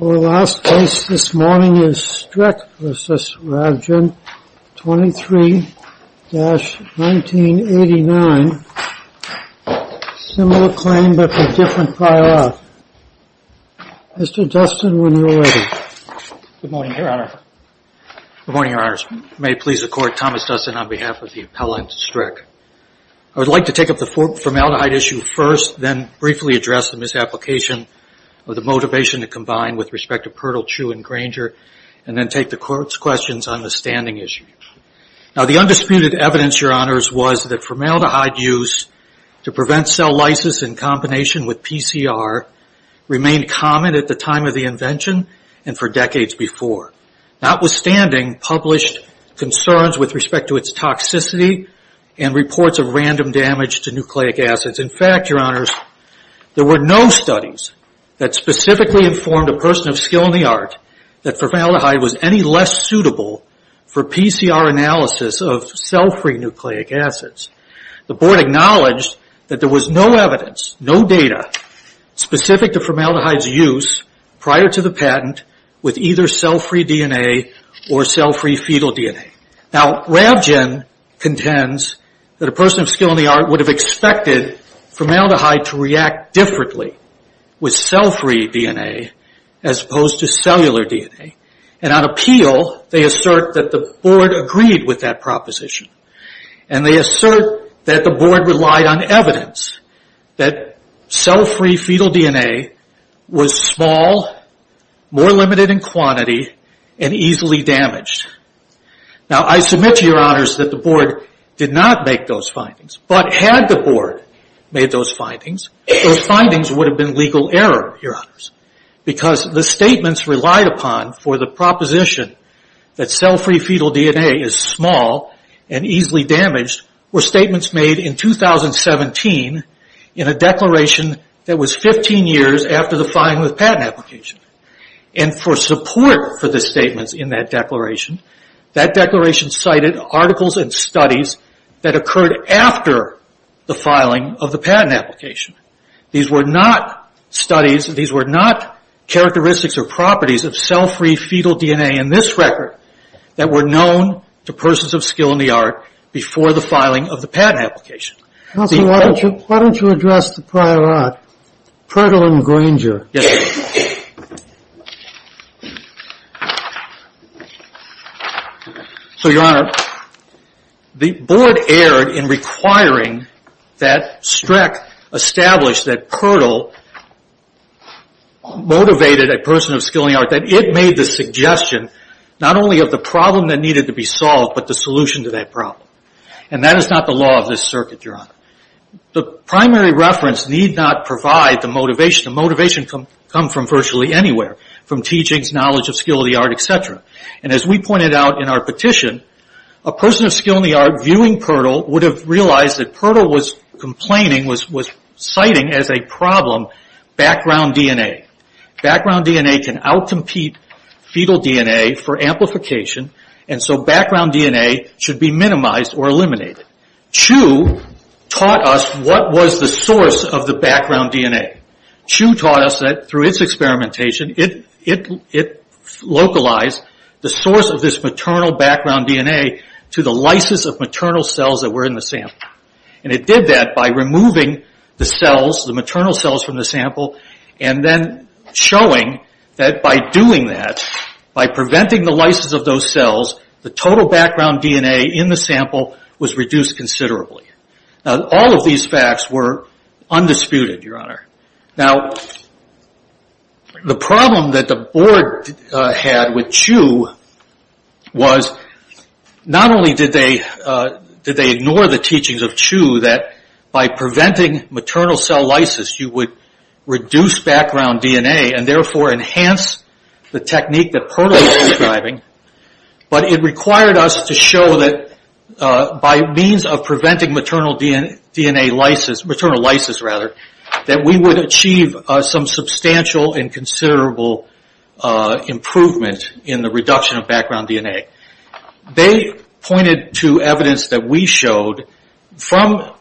Our last case this morning is Streck v. Ravgen, 23-1989, similar claim but a different file-off. Mr. Dustin, when you're ready. Good morning, Your Honor. Good morning, Your Honors. May it please the Court, Thomas Dustin on behalf of the appellant, Streck. I would like to take up the formaldehyde issue first, then briefly address the misapplication of the motivation to combine with respect to Pertol, Chu, and Granger, and then take the Court's questions on the standing issue. Now, the undisputed evidence, Your Honors, was that formaldehyde use to prevent cell lysis in combination with PCR remained common at the time of the invention and for decades before. Notwithstanding, published concerns with respect to its toxicity and reports of random damage to nucleic acids. In fact, Your Honors, there were no studies that specifically informed a person of skill in the art that formaldehyde was any less suitable for PCR analysis of cell-free nucleic acids. The Board acknowledged that there was no evidence, no data, specific to formaldehyde's use prior to the patent with either cell-free DNA or cell-free fetal DNA. Now, Rabgen contends that a person of skill in the art would have expected formaldehyde to react differently with cell-free DNA as opposed to cellular DNA. On appeal, they assert that the Board agreed with that proposition. They assert that the Board relied on evidence that cell-free fetal DNA was small, more limited in quantity, and easily damaged. Now, I submit to Your Honors that the Board did not make those findings. But had the Board made those findings, those findings would have been legal error, Your Honors, because the statements relied upon for the proposition that cell-free fetal DNA is small and easily damaged were statements made in 2017 in a declaration that was 15 years after the fine with patent application. And for support for the statements in that declaration, that declaration cited articles and studies that occurred after the filing of the patent application. These were not studies, these were not characteristics or properties of cell-free fetal DNA in this record that were known to persons of skill in the art before the filing of the patent application. Counsel, why don't you address the prior art, Pirtle and Granger? Yes, Your Honor. So, Your Honor, the Board erred in requiring that Streck establish that Pirtle motivated a person of skill in the art, that it made the suggestion not only of the problem that needed to be solved, but the solution to that problem. And that is not the law of this circuit, Your Honor. The primary reference need not provide the motivation. The motivation can come from virtually anywhere, from teachings, knowledge of skill of the art, etc. And as we pointed out in our petition, a person of skill in the art viewing Pirtle would have realized that Pirtle was complaining, was citing as a problem background DNA. Background DNA can out-compete fetal DNA for amplification, and so background DNA should be minimized or eliminated. Chu taught us what was the source of the background DNA. Chu taught us that through its experimentation, it localized the source of this maternal background DNA to the lysis of maternal cells that were in the sample. And it did that by removing the cells, the maternal cells from the sample, and then showing that by doing that, by preventing the lysis of those cells, the total background DNA in the sample was reduced considerably. Now, all of these facts were undisputed, Your Honor. Now, the problem that the board had with Chu was not only did they ignore the teachings of Chu, that by preventing maternal cell lysis, you would reduce background DNA and therefore enhance the technique that Pirtle was describing, but it required us to show that by means of preventing maternal lysis, that we would achieve some substantial and considerable improvement in the reduction of background DNA. They pointed to evidence that we showed from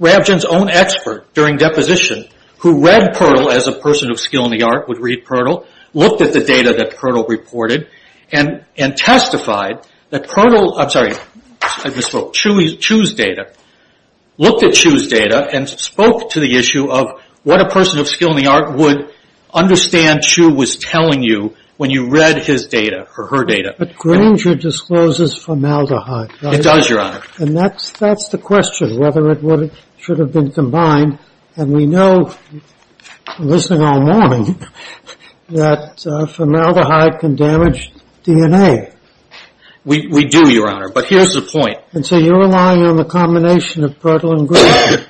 Ravjin's own expert during deposition, who read Pirtle as a person of skill in the art, would read Pirtle, looked at the data that Pirtle reported, and testified that Pirtle, I'm sorry, I misspoke, Chu's data, looked at Chu's data and spoke to the issue of what a person of skill in the art would understand Chu was telling you when you read his data or her data. But Granger discloses formaldehyde, right? It does, Your Honor. And that's the question, whether it should have been combined. And we know, listening all morning, that formaldehyde can damage DNA. We do, Your Honor, but here's the point. And so you're relying on the combination of Pirtle and Granger.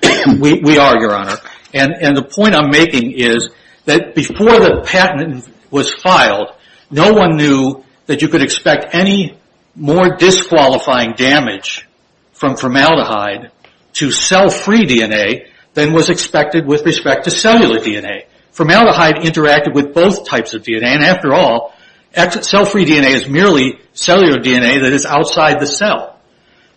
We are, Your Honor. And the point I'm making is that before the patent was filed, no one knew that you could expect any more disqualifying damage from formaldehyde to cell-free DNA than was expected with respect to cellular DNA. Formaldehyde interacted with both types of DNA. And after all, cell-free DNA is merely cellular DNA that is outside the cell.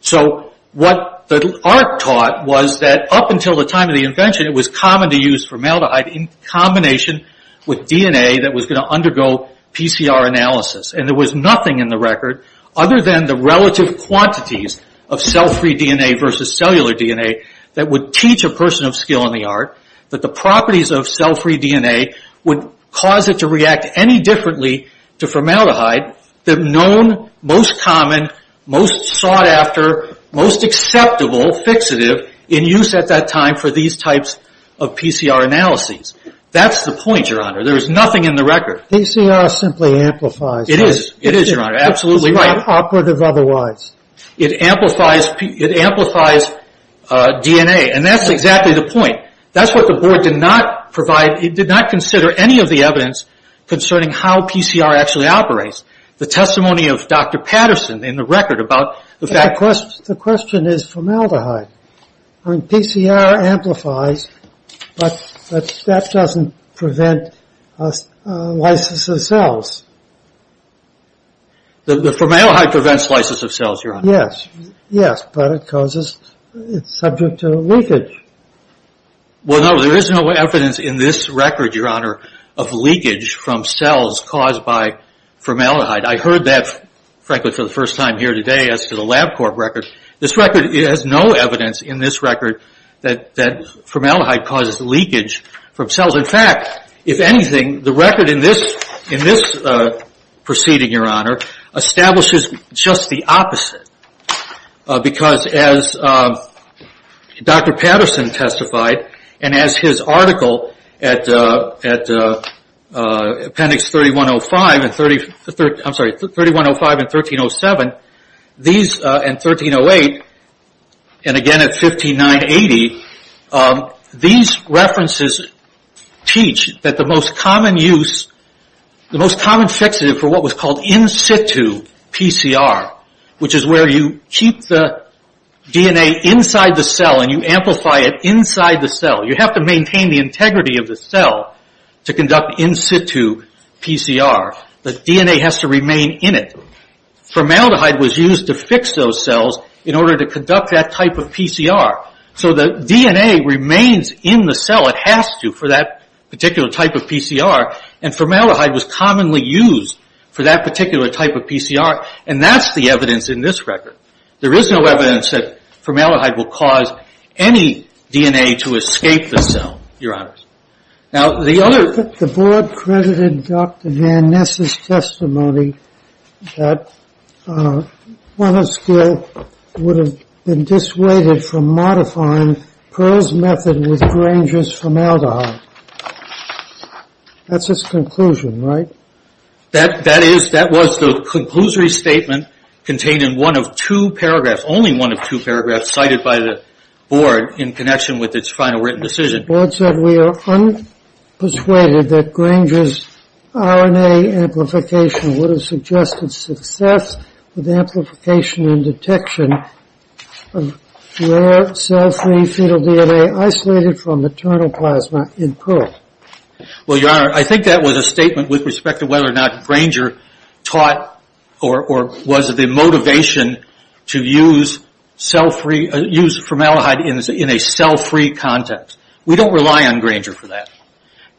So what the art taught was that up until the time of the invention, it was common to use formaldehyde in combination with DNA that was going to undergo PCR analysis. And there was nothing in the record other than the relative quantities of cell-free DNA versus cellular DNA that would teach a person of skill in the art that the properties of cell-free DNA would cause it to react any differently to formaldehyde than the known, most common, most sought-after, most acceptable fixative in use at that time for these types of PCR analyses. That's the point, Your Honor. There is nothing in the record. PCR simply amplifies. It is. It is, Your Honor. Absolutely right. It's not operative otherwise. It amplifies DNA. And that's exactly the point. That's what the board did not provide. It did not consider any of the evidence concerning how PCR actually operates. The testimony of Dr. Patterson in the record about the fact that... The question is formaldehyde. PCR amplifies, but that doesn't prevent lysis of cells. The formaldehyde prevents lysis of cells, Your Honor. Yes. But it causes... It's subject to leakage. Well, no, there is no evidence in this record, Your Honor, of leakage from cells caused by formaldehyde. I heard that, frankly, for the first time here today as to the LabCorp record. This record has no evidence in this record that formaldehyde causes leakage from cells. In fact, if anything, the record in this proceeding, Your Honor, establishes just the opposite. Because as Dr. Patterson testified, and as his article at appendix 3105 and 1307, and 1308, and again at 15980, these references teach that the most common use, the most common fixative for what was called in situ PCR, which is where you keep the DNA inside the cell and you amplify it inside the cell. You have to maintain the integrity of the cell to conduct in situ PCR. The DNA has to remain in it. Formaldehyde was used to fix those cells in order to conduct that type of PCR. So the DNA remains in the cell. It has to for that particular type of PCR. And formaldehyde was commonly used for that particular type of PCR. And that's the evidence in this record. There is no evidence that formaldehyde will cause any DNA to escape the cell, Your Honor. The board credited Dr. Van Ness' testimony that one of the skills would have been dissuaded from modifying Pearl's method with Granger's formaldehyde. That's its conclusion, right? That is, that was the conclusory statement contained in one of two paragraphs, only one of two paragraphs cited by the board in connection with its final written decision. The board said we are unpersuaded that Granger's RNA amplification would have suggested success with amplification and detection of rare cell-free fetal DNA isolated from maternal plasma in Pearl. Well, Your Honor, I think that was a statement with respect to whether or not Granger taught or was the motivation to use cell-free, use formaldehyde in a cell-free context. We don't rely on Granger for that.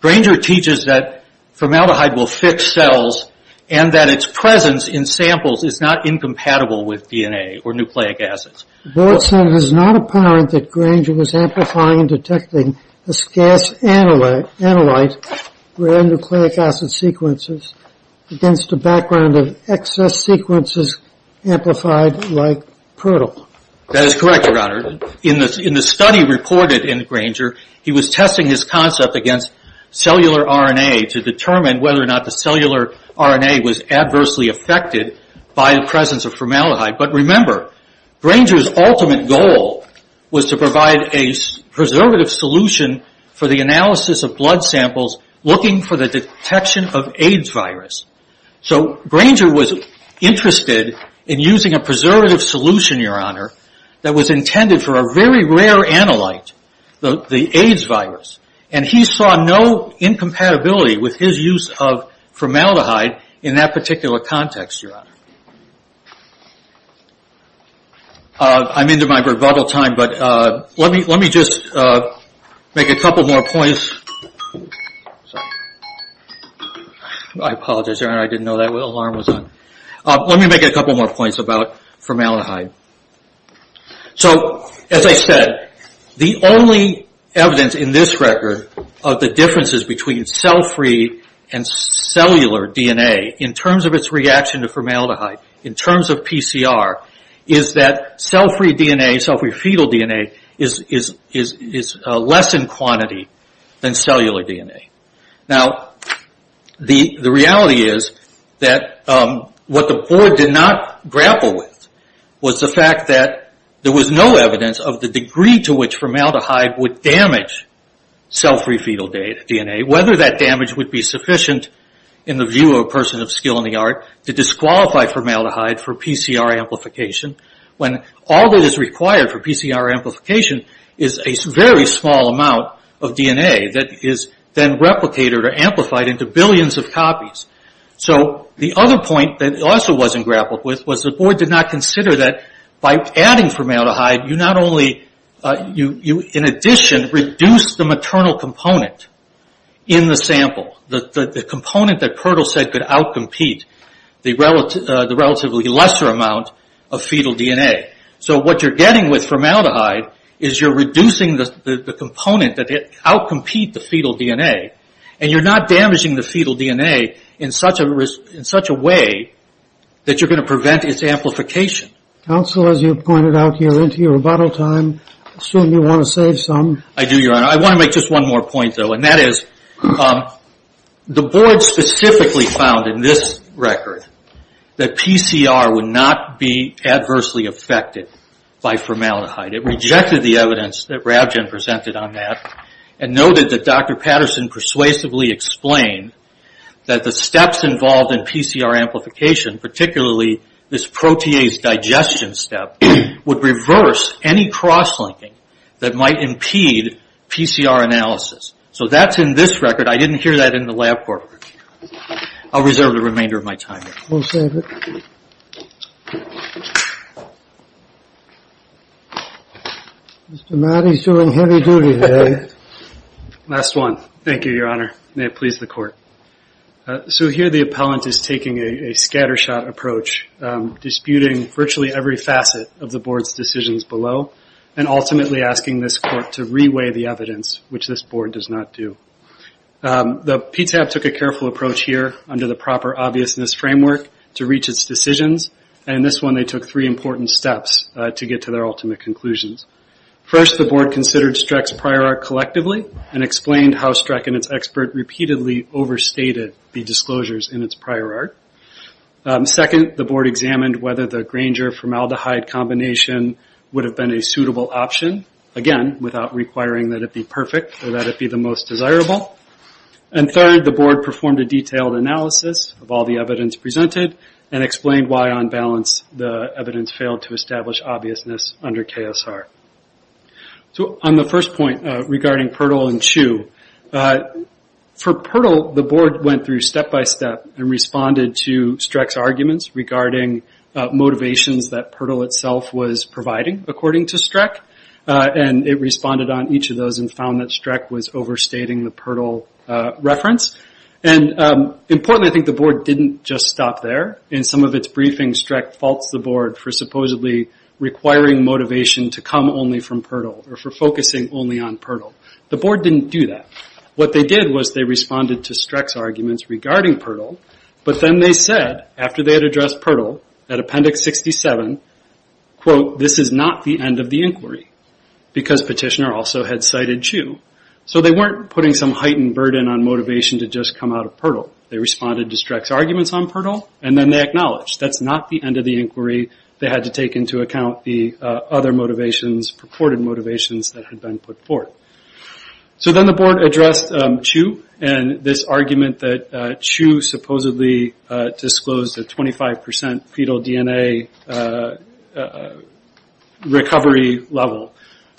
Granger teaches that formaldehyde will fix cells and that its presence in samples is not incompatible with DNA or nucleic acids. The board said it is not apparent that Granger was amplifying and detecting a scarce analyte, rare nucleic acid sequences, against a background of excess sequences amplified like Pearl. That is correct, Your Honor. In the study reported in Granger, he was testing his concept against cellular RNA to determine whether or not the cellular RNA was adversely affected by the presence of formaldehyde. But remember, Granger's ultimate goal was to provide a preservative solution for the analysis of blood samples looking for the detection of AIDS virus. So Granger was interested in using a preservative solution, Your Honor, that was intended for a very rare analyte, the AIDS virus. And he saw no incompatibility with his use of formaldehyde in that particular context, Your Honor. I'm into my rebuttal time, but let me just make a couple more points. I apologize, Your Honor, I didn't know that alarm was on. Let me make a couple more points about formaldehyde. So, as I said, the only evidence in this record of the differences between cell-free and cellular DNA in terms of its reaction to formaldehyde, in terms of PCR, is that cell-free DNA, cell-free fetal DNA, is less in quantity than cellular DNA. Now, the reality is that what the board did not grapple with was the fact that there was no evidence of the degree to which formaldehyde would damage cell-free fetal DNA, whether that damage would be sufficient in the view of a person of skill in the art to disqualify formaldehyde for PCR amplification, when all that is required for PCR amplification is a very small amount of DNA that is then replicated or amplified into billions of copies. So, the other point that also wasn't grappled with was the board did not consider that by adding formaldehyde, you not only, in addition, reduce the maternal component in the sample, the component that Pertle said could out-compete the relatively lesser amount of fetal DNA. So, what you're getting with formaldehyde is you're reducing the component that out-compete the fetal DNA, and you're not damaging the fetal DNA in such a way that you're going to prevent its amplification. Counsel, as you pointed out, you're into your rebuttal time. I assume you want to save some. I do, Your Honor. I want to make just one more point, though, and that is the board specifically found in this record that PCR would not be adversely affected by formaldehyde. It rejected the evidence that Ravjen presented on that and noted that Dr. Patterson persuasively explained that the steps involved in PCR amplification, particularly this protease digestion step, would reverse any cross-linking that might impede PCR analysis. So that's in this record. I didn't hear that in the lab report. I'll reserve the remainder of my time here. We'll save it. Mr. Matty's doing heavy duty today. Last one. Thank you, Your Honor. May it please the Court. So, here the appellant is taking a scattershot approach, disputing virtually every facet of the board's decisions below and ultimately asking this Court to reweigh the evidence, which this board does not do. The PTAB took a careful approach here under the proper obviousness framework to reach its decisions, and in this one they took three important steps to get to their ultimate conclusions. First, the board considered Streck's prior art collectively and explained how Streck and its expert repeatedly overstated the disclosures in its prior art. Second, the board examined whether the Granger-formaldehyde combination would have been a suitable option, again, without requiring that it be perfect or that it be the most desirable. And third, the board performed a detailed analysis of all the evidence presented and explained why, on balance, the evidence failed to establish obviousness under KSR. So, on the first point regarding PERTOL and CHEW, for PERTOL, the board went through step-by-step and responded to Streck's arguments regarding motivations that PERTOL itself was providing, according to Streck, and it responded on each of those and found that Streck was overstating the PERTOL reference. And importantly, I think the board didn't just stop there. In some of its briefings, Streck faults the board for supposedly requiring motivation to come only from PERTOL or for focusing only on PERTOL. The board didn't do that. What they did was they responded to Streck's arguments regarding PERTOL, but then they said, after they had addressed PERTOL, at Appendix 67, quote, this is not the end of the inquiry, because petitioner also had cited CHEW. So they weren't putting some heightened burden on motivation to just come out of PERTOL. They responded to Streck's arguments on PERTOL, and then they acknowledged that's not the end of the inquiry. They had to take into account the other motivations, purported motivations, that had been put forth. So then the board addressed CHEW and this argument that CHEW supposedly disclosed a 25% fetal DNA recovery level,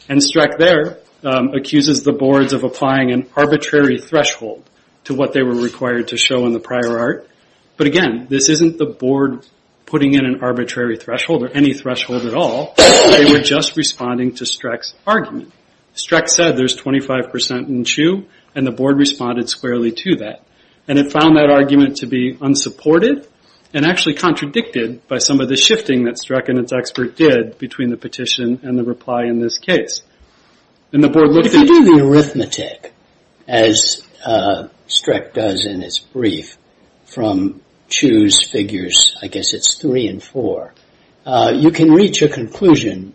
and Streck there accuses the boards of applying an arbitrary threshold to what they were required to show in the prior art. But again, this isn't the board putting in an arbitrary threshold or any threshold at all. They were just responding to Streck's argument. Streck said there's 25% in CHEW, and the board responded squarely to that. And it found that argument to be unsupported and actually contradicted by some of the shifting that Streck and its expert did between the petition and the reply in this case. If you do the arithmetic, as Streck does in his brief, from CHEW's figures, I guess it's three and four, you can reach a conclusion,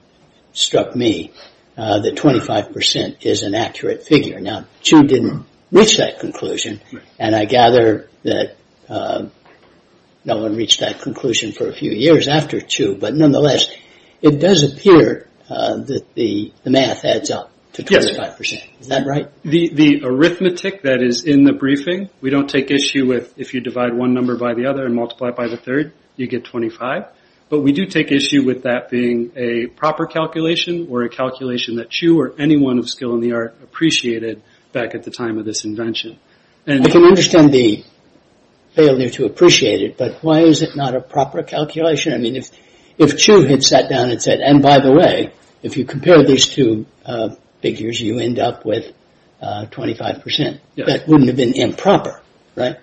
struck me, that 25% is an accurate figure. Now, CHEW didn't reach that conclusion, and I gather that no one reached that conclusion for a few years after CHEW. But nonetheless, it does appear that the math adds up to 25%. Is that right? Yes. The arithmetic that is in the briefing, we don't take issue with if you divide one number by the other and multiply it by the third, you get 25. But we do take issue with that being a proper calculation or a calculation that CHEW or anyone of skill in the art appreciated back at the time of this invention. I can understand the failure to appreciate it, but why is it not a proper calculation? I mean, if CHEW had sat down and said, and by the way, if you compare these two figures, you end up with 25%. That wouldn't have been improper, right?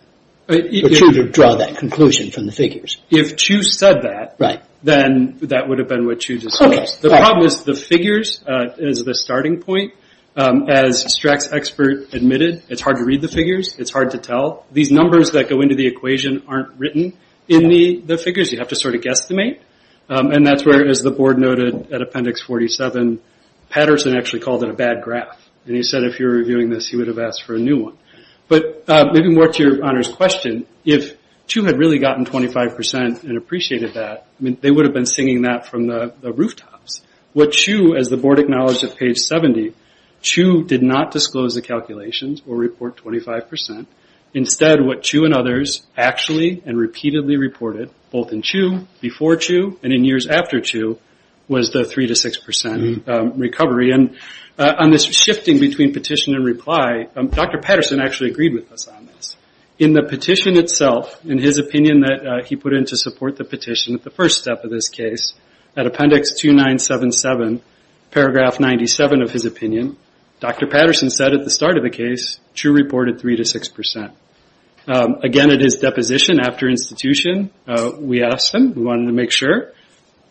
For CHEW to draw that conclusion from the figures. If CHEW said that, then that would have been what CHEW discussed. The problem is the figures is the starting point. As Streck's expert admitted, it's hard to read the figures. It's hard to tell. These numbers that go into the equation aren't written in the figures. You have to sort of guesstimate. That's where, as the board noted at Appendix 47, Patterson actually called it a bad graph. He said if you're reviewing this, he would have asked for a new one. Maybe more to your honor's question, if CHEW had really gotten 25% and appreciated that, they would have been singing that from the rooftops. What CHEW, as the board acknowledged at page 70, CHEW did not disclose the calculations or report 25%. Instead, what CHEW and others actually and repeatedly reported, both in CHEW, before CHEW, and in years after CHEW, was the 3% to 6% recovery. On this shifting between petition and reply, Dr. Patterson actually agreed with us on this. In the petition itself, in his opinion that he put in to support the petition at the first step of this case, at Appendix 2977, paragraph 97 of his opinion, Dr. Patterson said at the start of the case, CHEW reported 3% to 6%. Again, at his deposition after institution, we asked him. We wanted to make sure.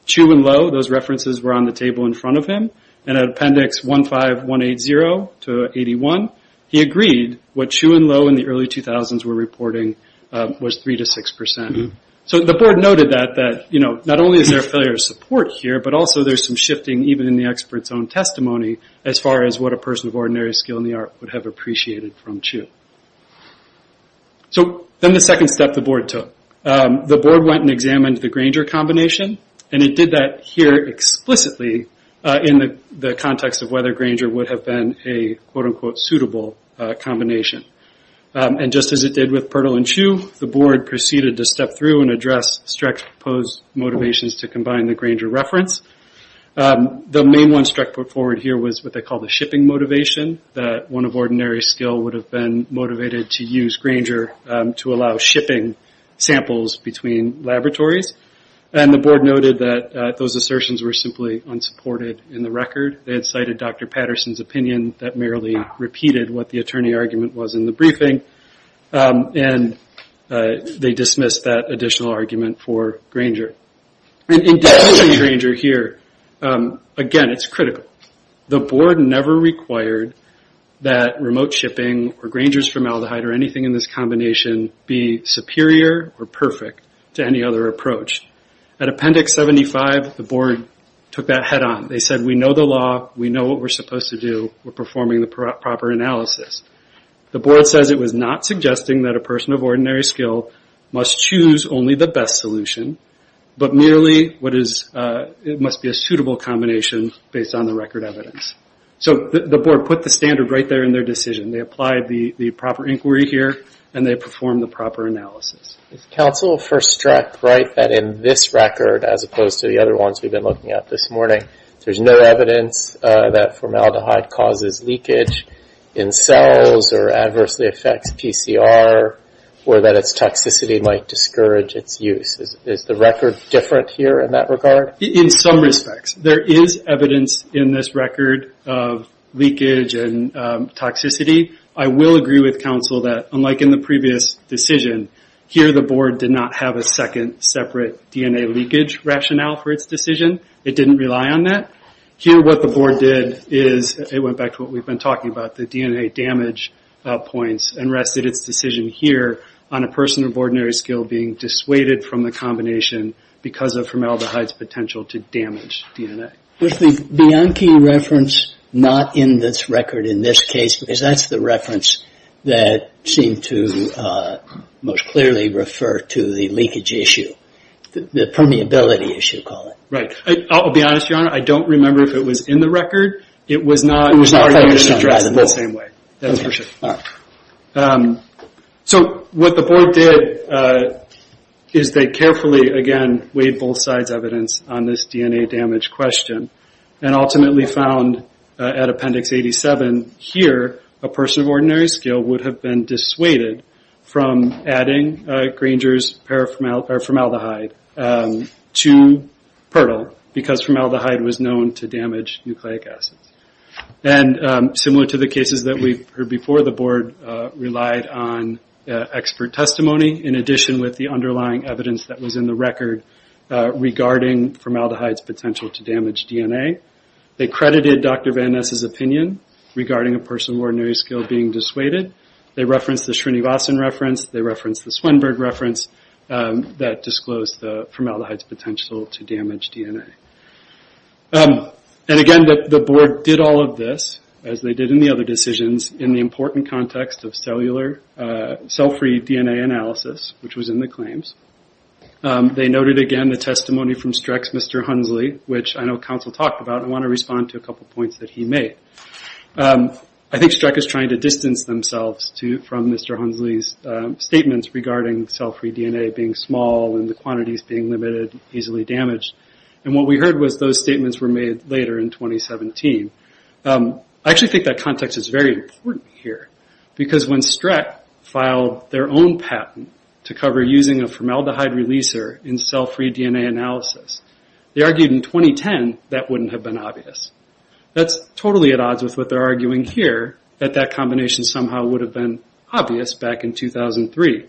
CHEW and Lowe, those references were on the table in front of him. At Appendix 15180 to 81, he agreed what CHEW and Lowe in the early 2000s were reporting was 3% to 6%. The board noted that not only is there a failure of support here, but also there's some shifting, even in the expert's own testimony, as far as what a person of ordinary skill in the art would have appreciated from CHEW. Then the second step the board took. The board went and examined the Grainger combination. It did that here explicitly in the context of whether Grainger would have been a, quote-unquote, suitable combination. Just as it did with Pirtle and CHEW, the board proceeded to step through and address Streck's proposed motivations to combine the Grainger reference. The main one Streck put forward here was what they call the shipping motivation, that one of ordinary skill would have been motivated to use Grainger to allow shipping samples between laboratories. The board noted that those assertions were simply unsupported in the record. They had cited Dr. Patterson's opinion that merely repeated what the attorney argument was in the briefing. They dismissed that additional argument for Grainger. In determining Grainger here, again, it's critical. The board never required that remote shipping or Grainger's formaldehyde or anything in this combination be superior or perfect to any other approach. At Appendix 75, the board took that head on. They said, we know the law. We know what we're supposed to do. We're performing the proper analysis. The board says it was not suggesting that a person of ordinary skill must choose only the best solution, but merely it must be a suitable combination based on the record evidence. The board put the standard right there in their decision. They applied the proper inquiry here, and they performed the proper analysis. If counsel for Streck write that in this record, as opposed to the other ones we've been looking at this morning, there's no evidence that formaldehyde causes leakage in cells or adversely affects PCR, or that its toxicity might discourage its use. Is the record different here in that regard? In some respects. There is evidence in this record of leakage and toxicity. I will agree with counsel that, unlike in the previous decision, here the board did not have a second separate DNA leakage rationale for its decision. It didn't rely on that. Here what the board did is, it went back to what we've been talking about, the DNA damage points, and rested its decision here on a person of ordinary skill being dissuaded from the combination because of formaldehyde's potential to damage DNA. With the Bianchi reference not in this record in this case, because that's the reference that seemed to most clearly refer to the leakage issue, the permeability issue, call it. Right. I'll be honest, Your Honor, I don't remember if it was in the record. It was not in the same way. That's for sure. All right. So what the board did is they carefully, again, weighed both sides' evidence on this DNA damage question and ultimately found at Appendix 87 here, a person of ordinary skill would have been dissuaded from adding Granger's formaldehyde to Pertol because formaldehyde was known to damage nucleic acids. And similar to the cases that we've heard before, the board relied on expert testimony, in addition with the underlying evidence that was in the record regarding formaldehyde's potential to damage DNA. They credited Dr. Van Ness' opinion regarding a person of ordinary skill being dissuaded. They referenced the Srinivasan reference. They referenced the Swenberg reference that disclosed the formaldehyde's potential to damage DNA. And again, the board did all of this, as they did in the other decisions, in the important context of cell-free DNA analysis, which was in the claims. They noted, again, the testimony from Streck's Mr. Hunsley, which I know counsel talked about. I want to respond to a couple points that he made. I think Streck is trying to distance themselves from Mr. Hunsley's statements regarding cell-free DNA being small and the quantities being limited, easily damaged. And what we heard was those statements were made later in 2017. I actually think that context is very important here, because when Streck filed their own patent to cover using a formaldehyde releaser in cell-free DNA analysis, they argued in 2010 that wouldn't have been obvious. That's totally at odds with what they're arguing here, that that combination somehow would have been obvious back in 2003.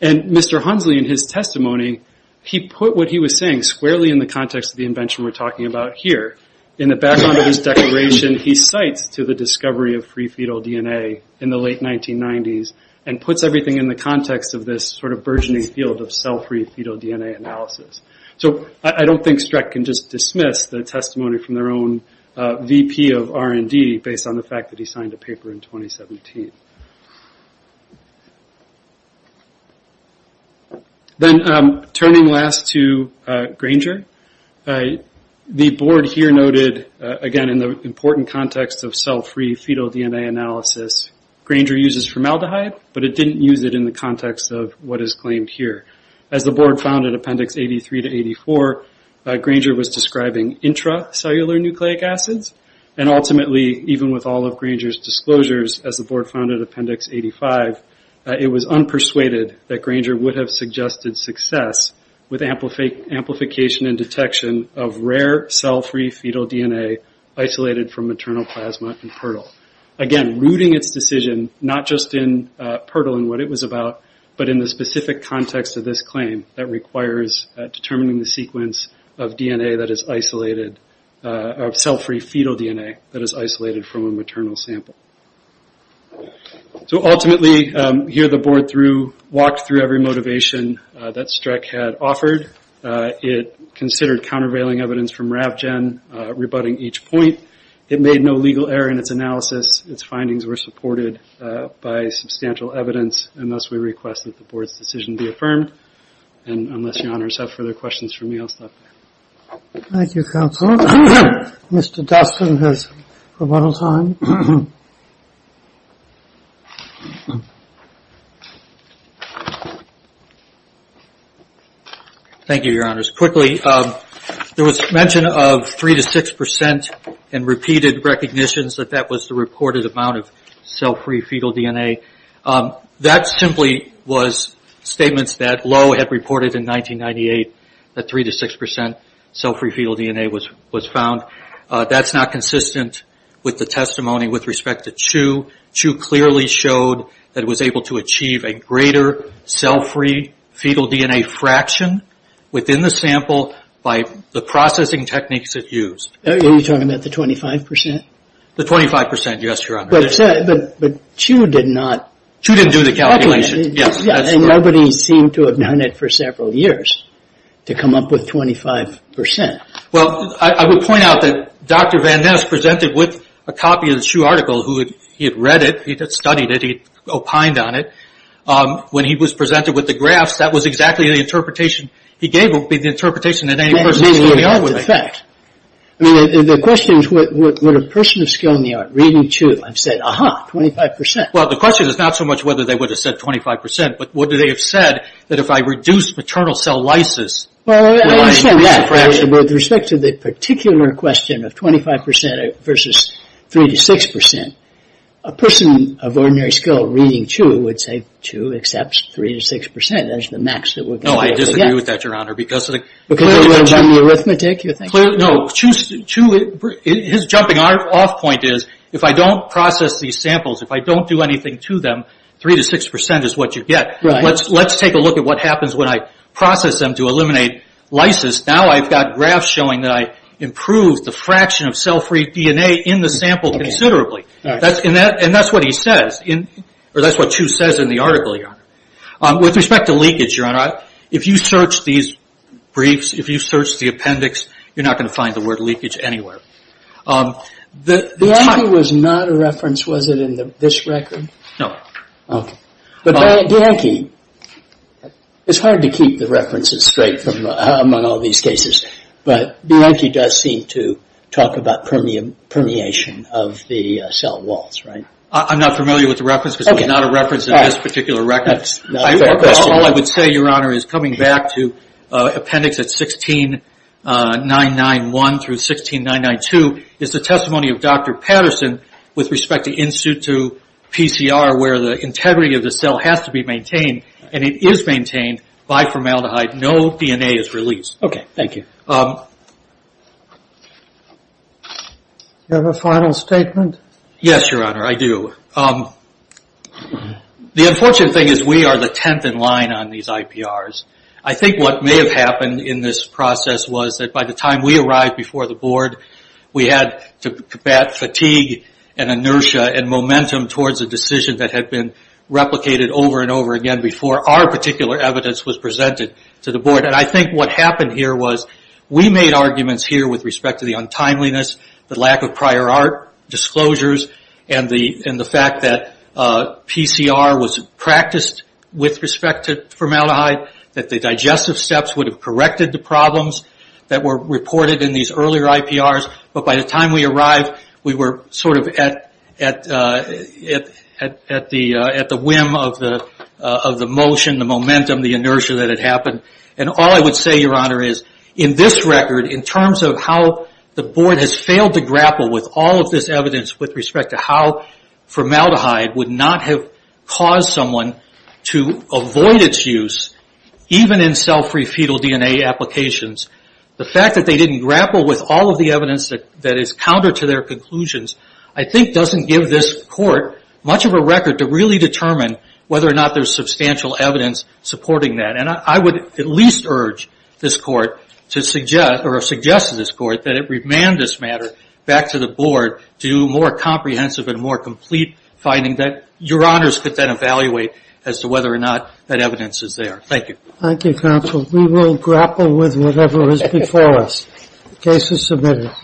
And Mr. Hunsley, in his testimony, he put what he was saying squarely in the context of the invention we're talking about here. In the background of his declaration, he cites to the discovery of free fetal DNA in the late 1990s and puts everything in the context of this burgeoning field of cell-free fetal DNA analysis. I don't think Streck can just dismiss the testimony from their own VP of R&D based on the fact that he signed a paper in 2017. Then, turning last to Granger, the board here noted, again, in the important context of cell-free fetal DNA analysis, Granger uses formaldehyde, but it didn't use it in the context of what is claimed here. As the board found in Appendix 83 to 84, Granger was describing intracellular nucleic acids, and ultimately, even with all of Granger's disclosures, as the board found in Appendix 85, it was unpersuaded that Granger would have suggested success with amplification and detection of rare cell-free fetal DNA isolated from maternal plasma and PERTL. Again, rooting its decision, not just in PERTL and what it was about, but in the specific context of this claim that requires determining the sequence of DNA that is isolated, of cell-free fetal DNA, that is isolated from a maternal sample. Ultimately, here the board walked through every motivation that Streck had offered. It considered countervailing evidence from RavGen, rebutting each point. It made no legal error in its analysis. Its findings were supported by substantial evidence, and thus we request that the board's decision be affirmed. Unless your honors have further questions for me, I'll stop there. Thank you, Counselor. Mr. Dustin has a little time. Thank you, your honors. Quickly, there was mention of 3-6% and repeated recognitions that that was the reported amount of cell-free fetal DNA. That simply was statements that Lowe had reported in 1998, that 3-6% cell-free fetal DNA was found. That's not consistent with the testimony with respect to Chu. Chu clearly showed that it was able to achieve a greater cell-free fetal DNA fraction within the sample by the processing techniques it used. Are you talking about the 25%? The 25%, yes, your honors. But Chu did not... Chu didn't do the calculation, yes. And nobody seemed to have done it for several years to come up with 25%. Well, I would point out that Dr. Van Ness presented with a copy of the Chu article. He had read it, he had studied it, he had opined on it. When he was presented with the graphs, that was exactly the interpretation he gave. The question is, would a person of skill in the art reading Chu have said, aha, 25%? Well, the question is not so much whether they would have said 25%, but would they have said that if I reduce paternal cell lysis... With respect to the particular question of 25% versus 3-6%, a person of ordinary skill reading Chu would say Chu accepts 3-6%. No, I disagree with that, your honor. His jumping off point is, if I don't process these samples, if I don't do anything to them, 3-6% is what you get. Let's take a look at what happens when I process them to eliminate lysis. Now I've got graphs showing that I improved the fraction of cell-free DNA in the sample considerably. And that's what he says, or that's what Chu says in the article, your honor. With respect to leakage, your honor, if you search these briefs, if you search the appendix, you're not going to find the word leakage anywhere. The Yankee was not a reference, was it, in this record? No. But Yankee does seem to talk about permeation of the cell walls, right? I'm not familiar with the reference, because it was not a reference in this particular record. All I would say, your honor, is coming back to appendix 16991-16992, is the testimony of Dr. Patterson with respect to in-situ PCR, where the integrity of the cell has to be maintained, and it is maintained by formaldehyde. No DNA is released. Do you have a final statement? Yes, your honor, I do. The unfortunate thing is we are the tenth in line on these IPRs. I think what may have happened in this process was that by the time we arrived before the board, we had to combat fatigue and inertia and momentum towards a decision that had been replicated over and over again before our particular evidence was presented to the board. I think what happened here was we made arguments here with respect to the untimeliness, the lack of prior art disclosures, and the fact that PCR was practiced with respect to formaldehyde, that the digestive steps would have corrected the problems that were reported in these earlier IPRs. By the time we arrived, we were at the whim of the motion, the momentum, the inertia that had happened. All I would say, your honor, is in this record, in terms of how the board has failed to grapple with all of this evidence with respect to how formaldehyde would not have caused someone to avoid its use, even in cell-free fetal DNA applications, the fact that they didn't grapple with all of the evidence that is counter to their conclusions, I think doesn't give this court much of a record to really determine whether or not there's substantial evidence supporting that. I would at least urge this court, or suggest to this court, that it remand this matter back to the board to do more comprehensive and more complete finding that your honors could then evaluate as to whether or not that evidence is there. Thank you. Thank you, counsel. We will grapple with whatever is before us. Case is submitted.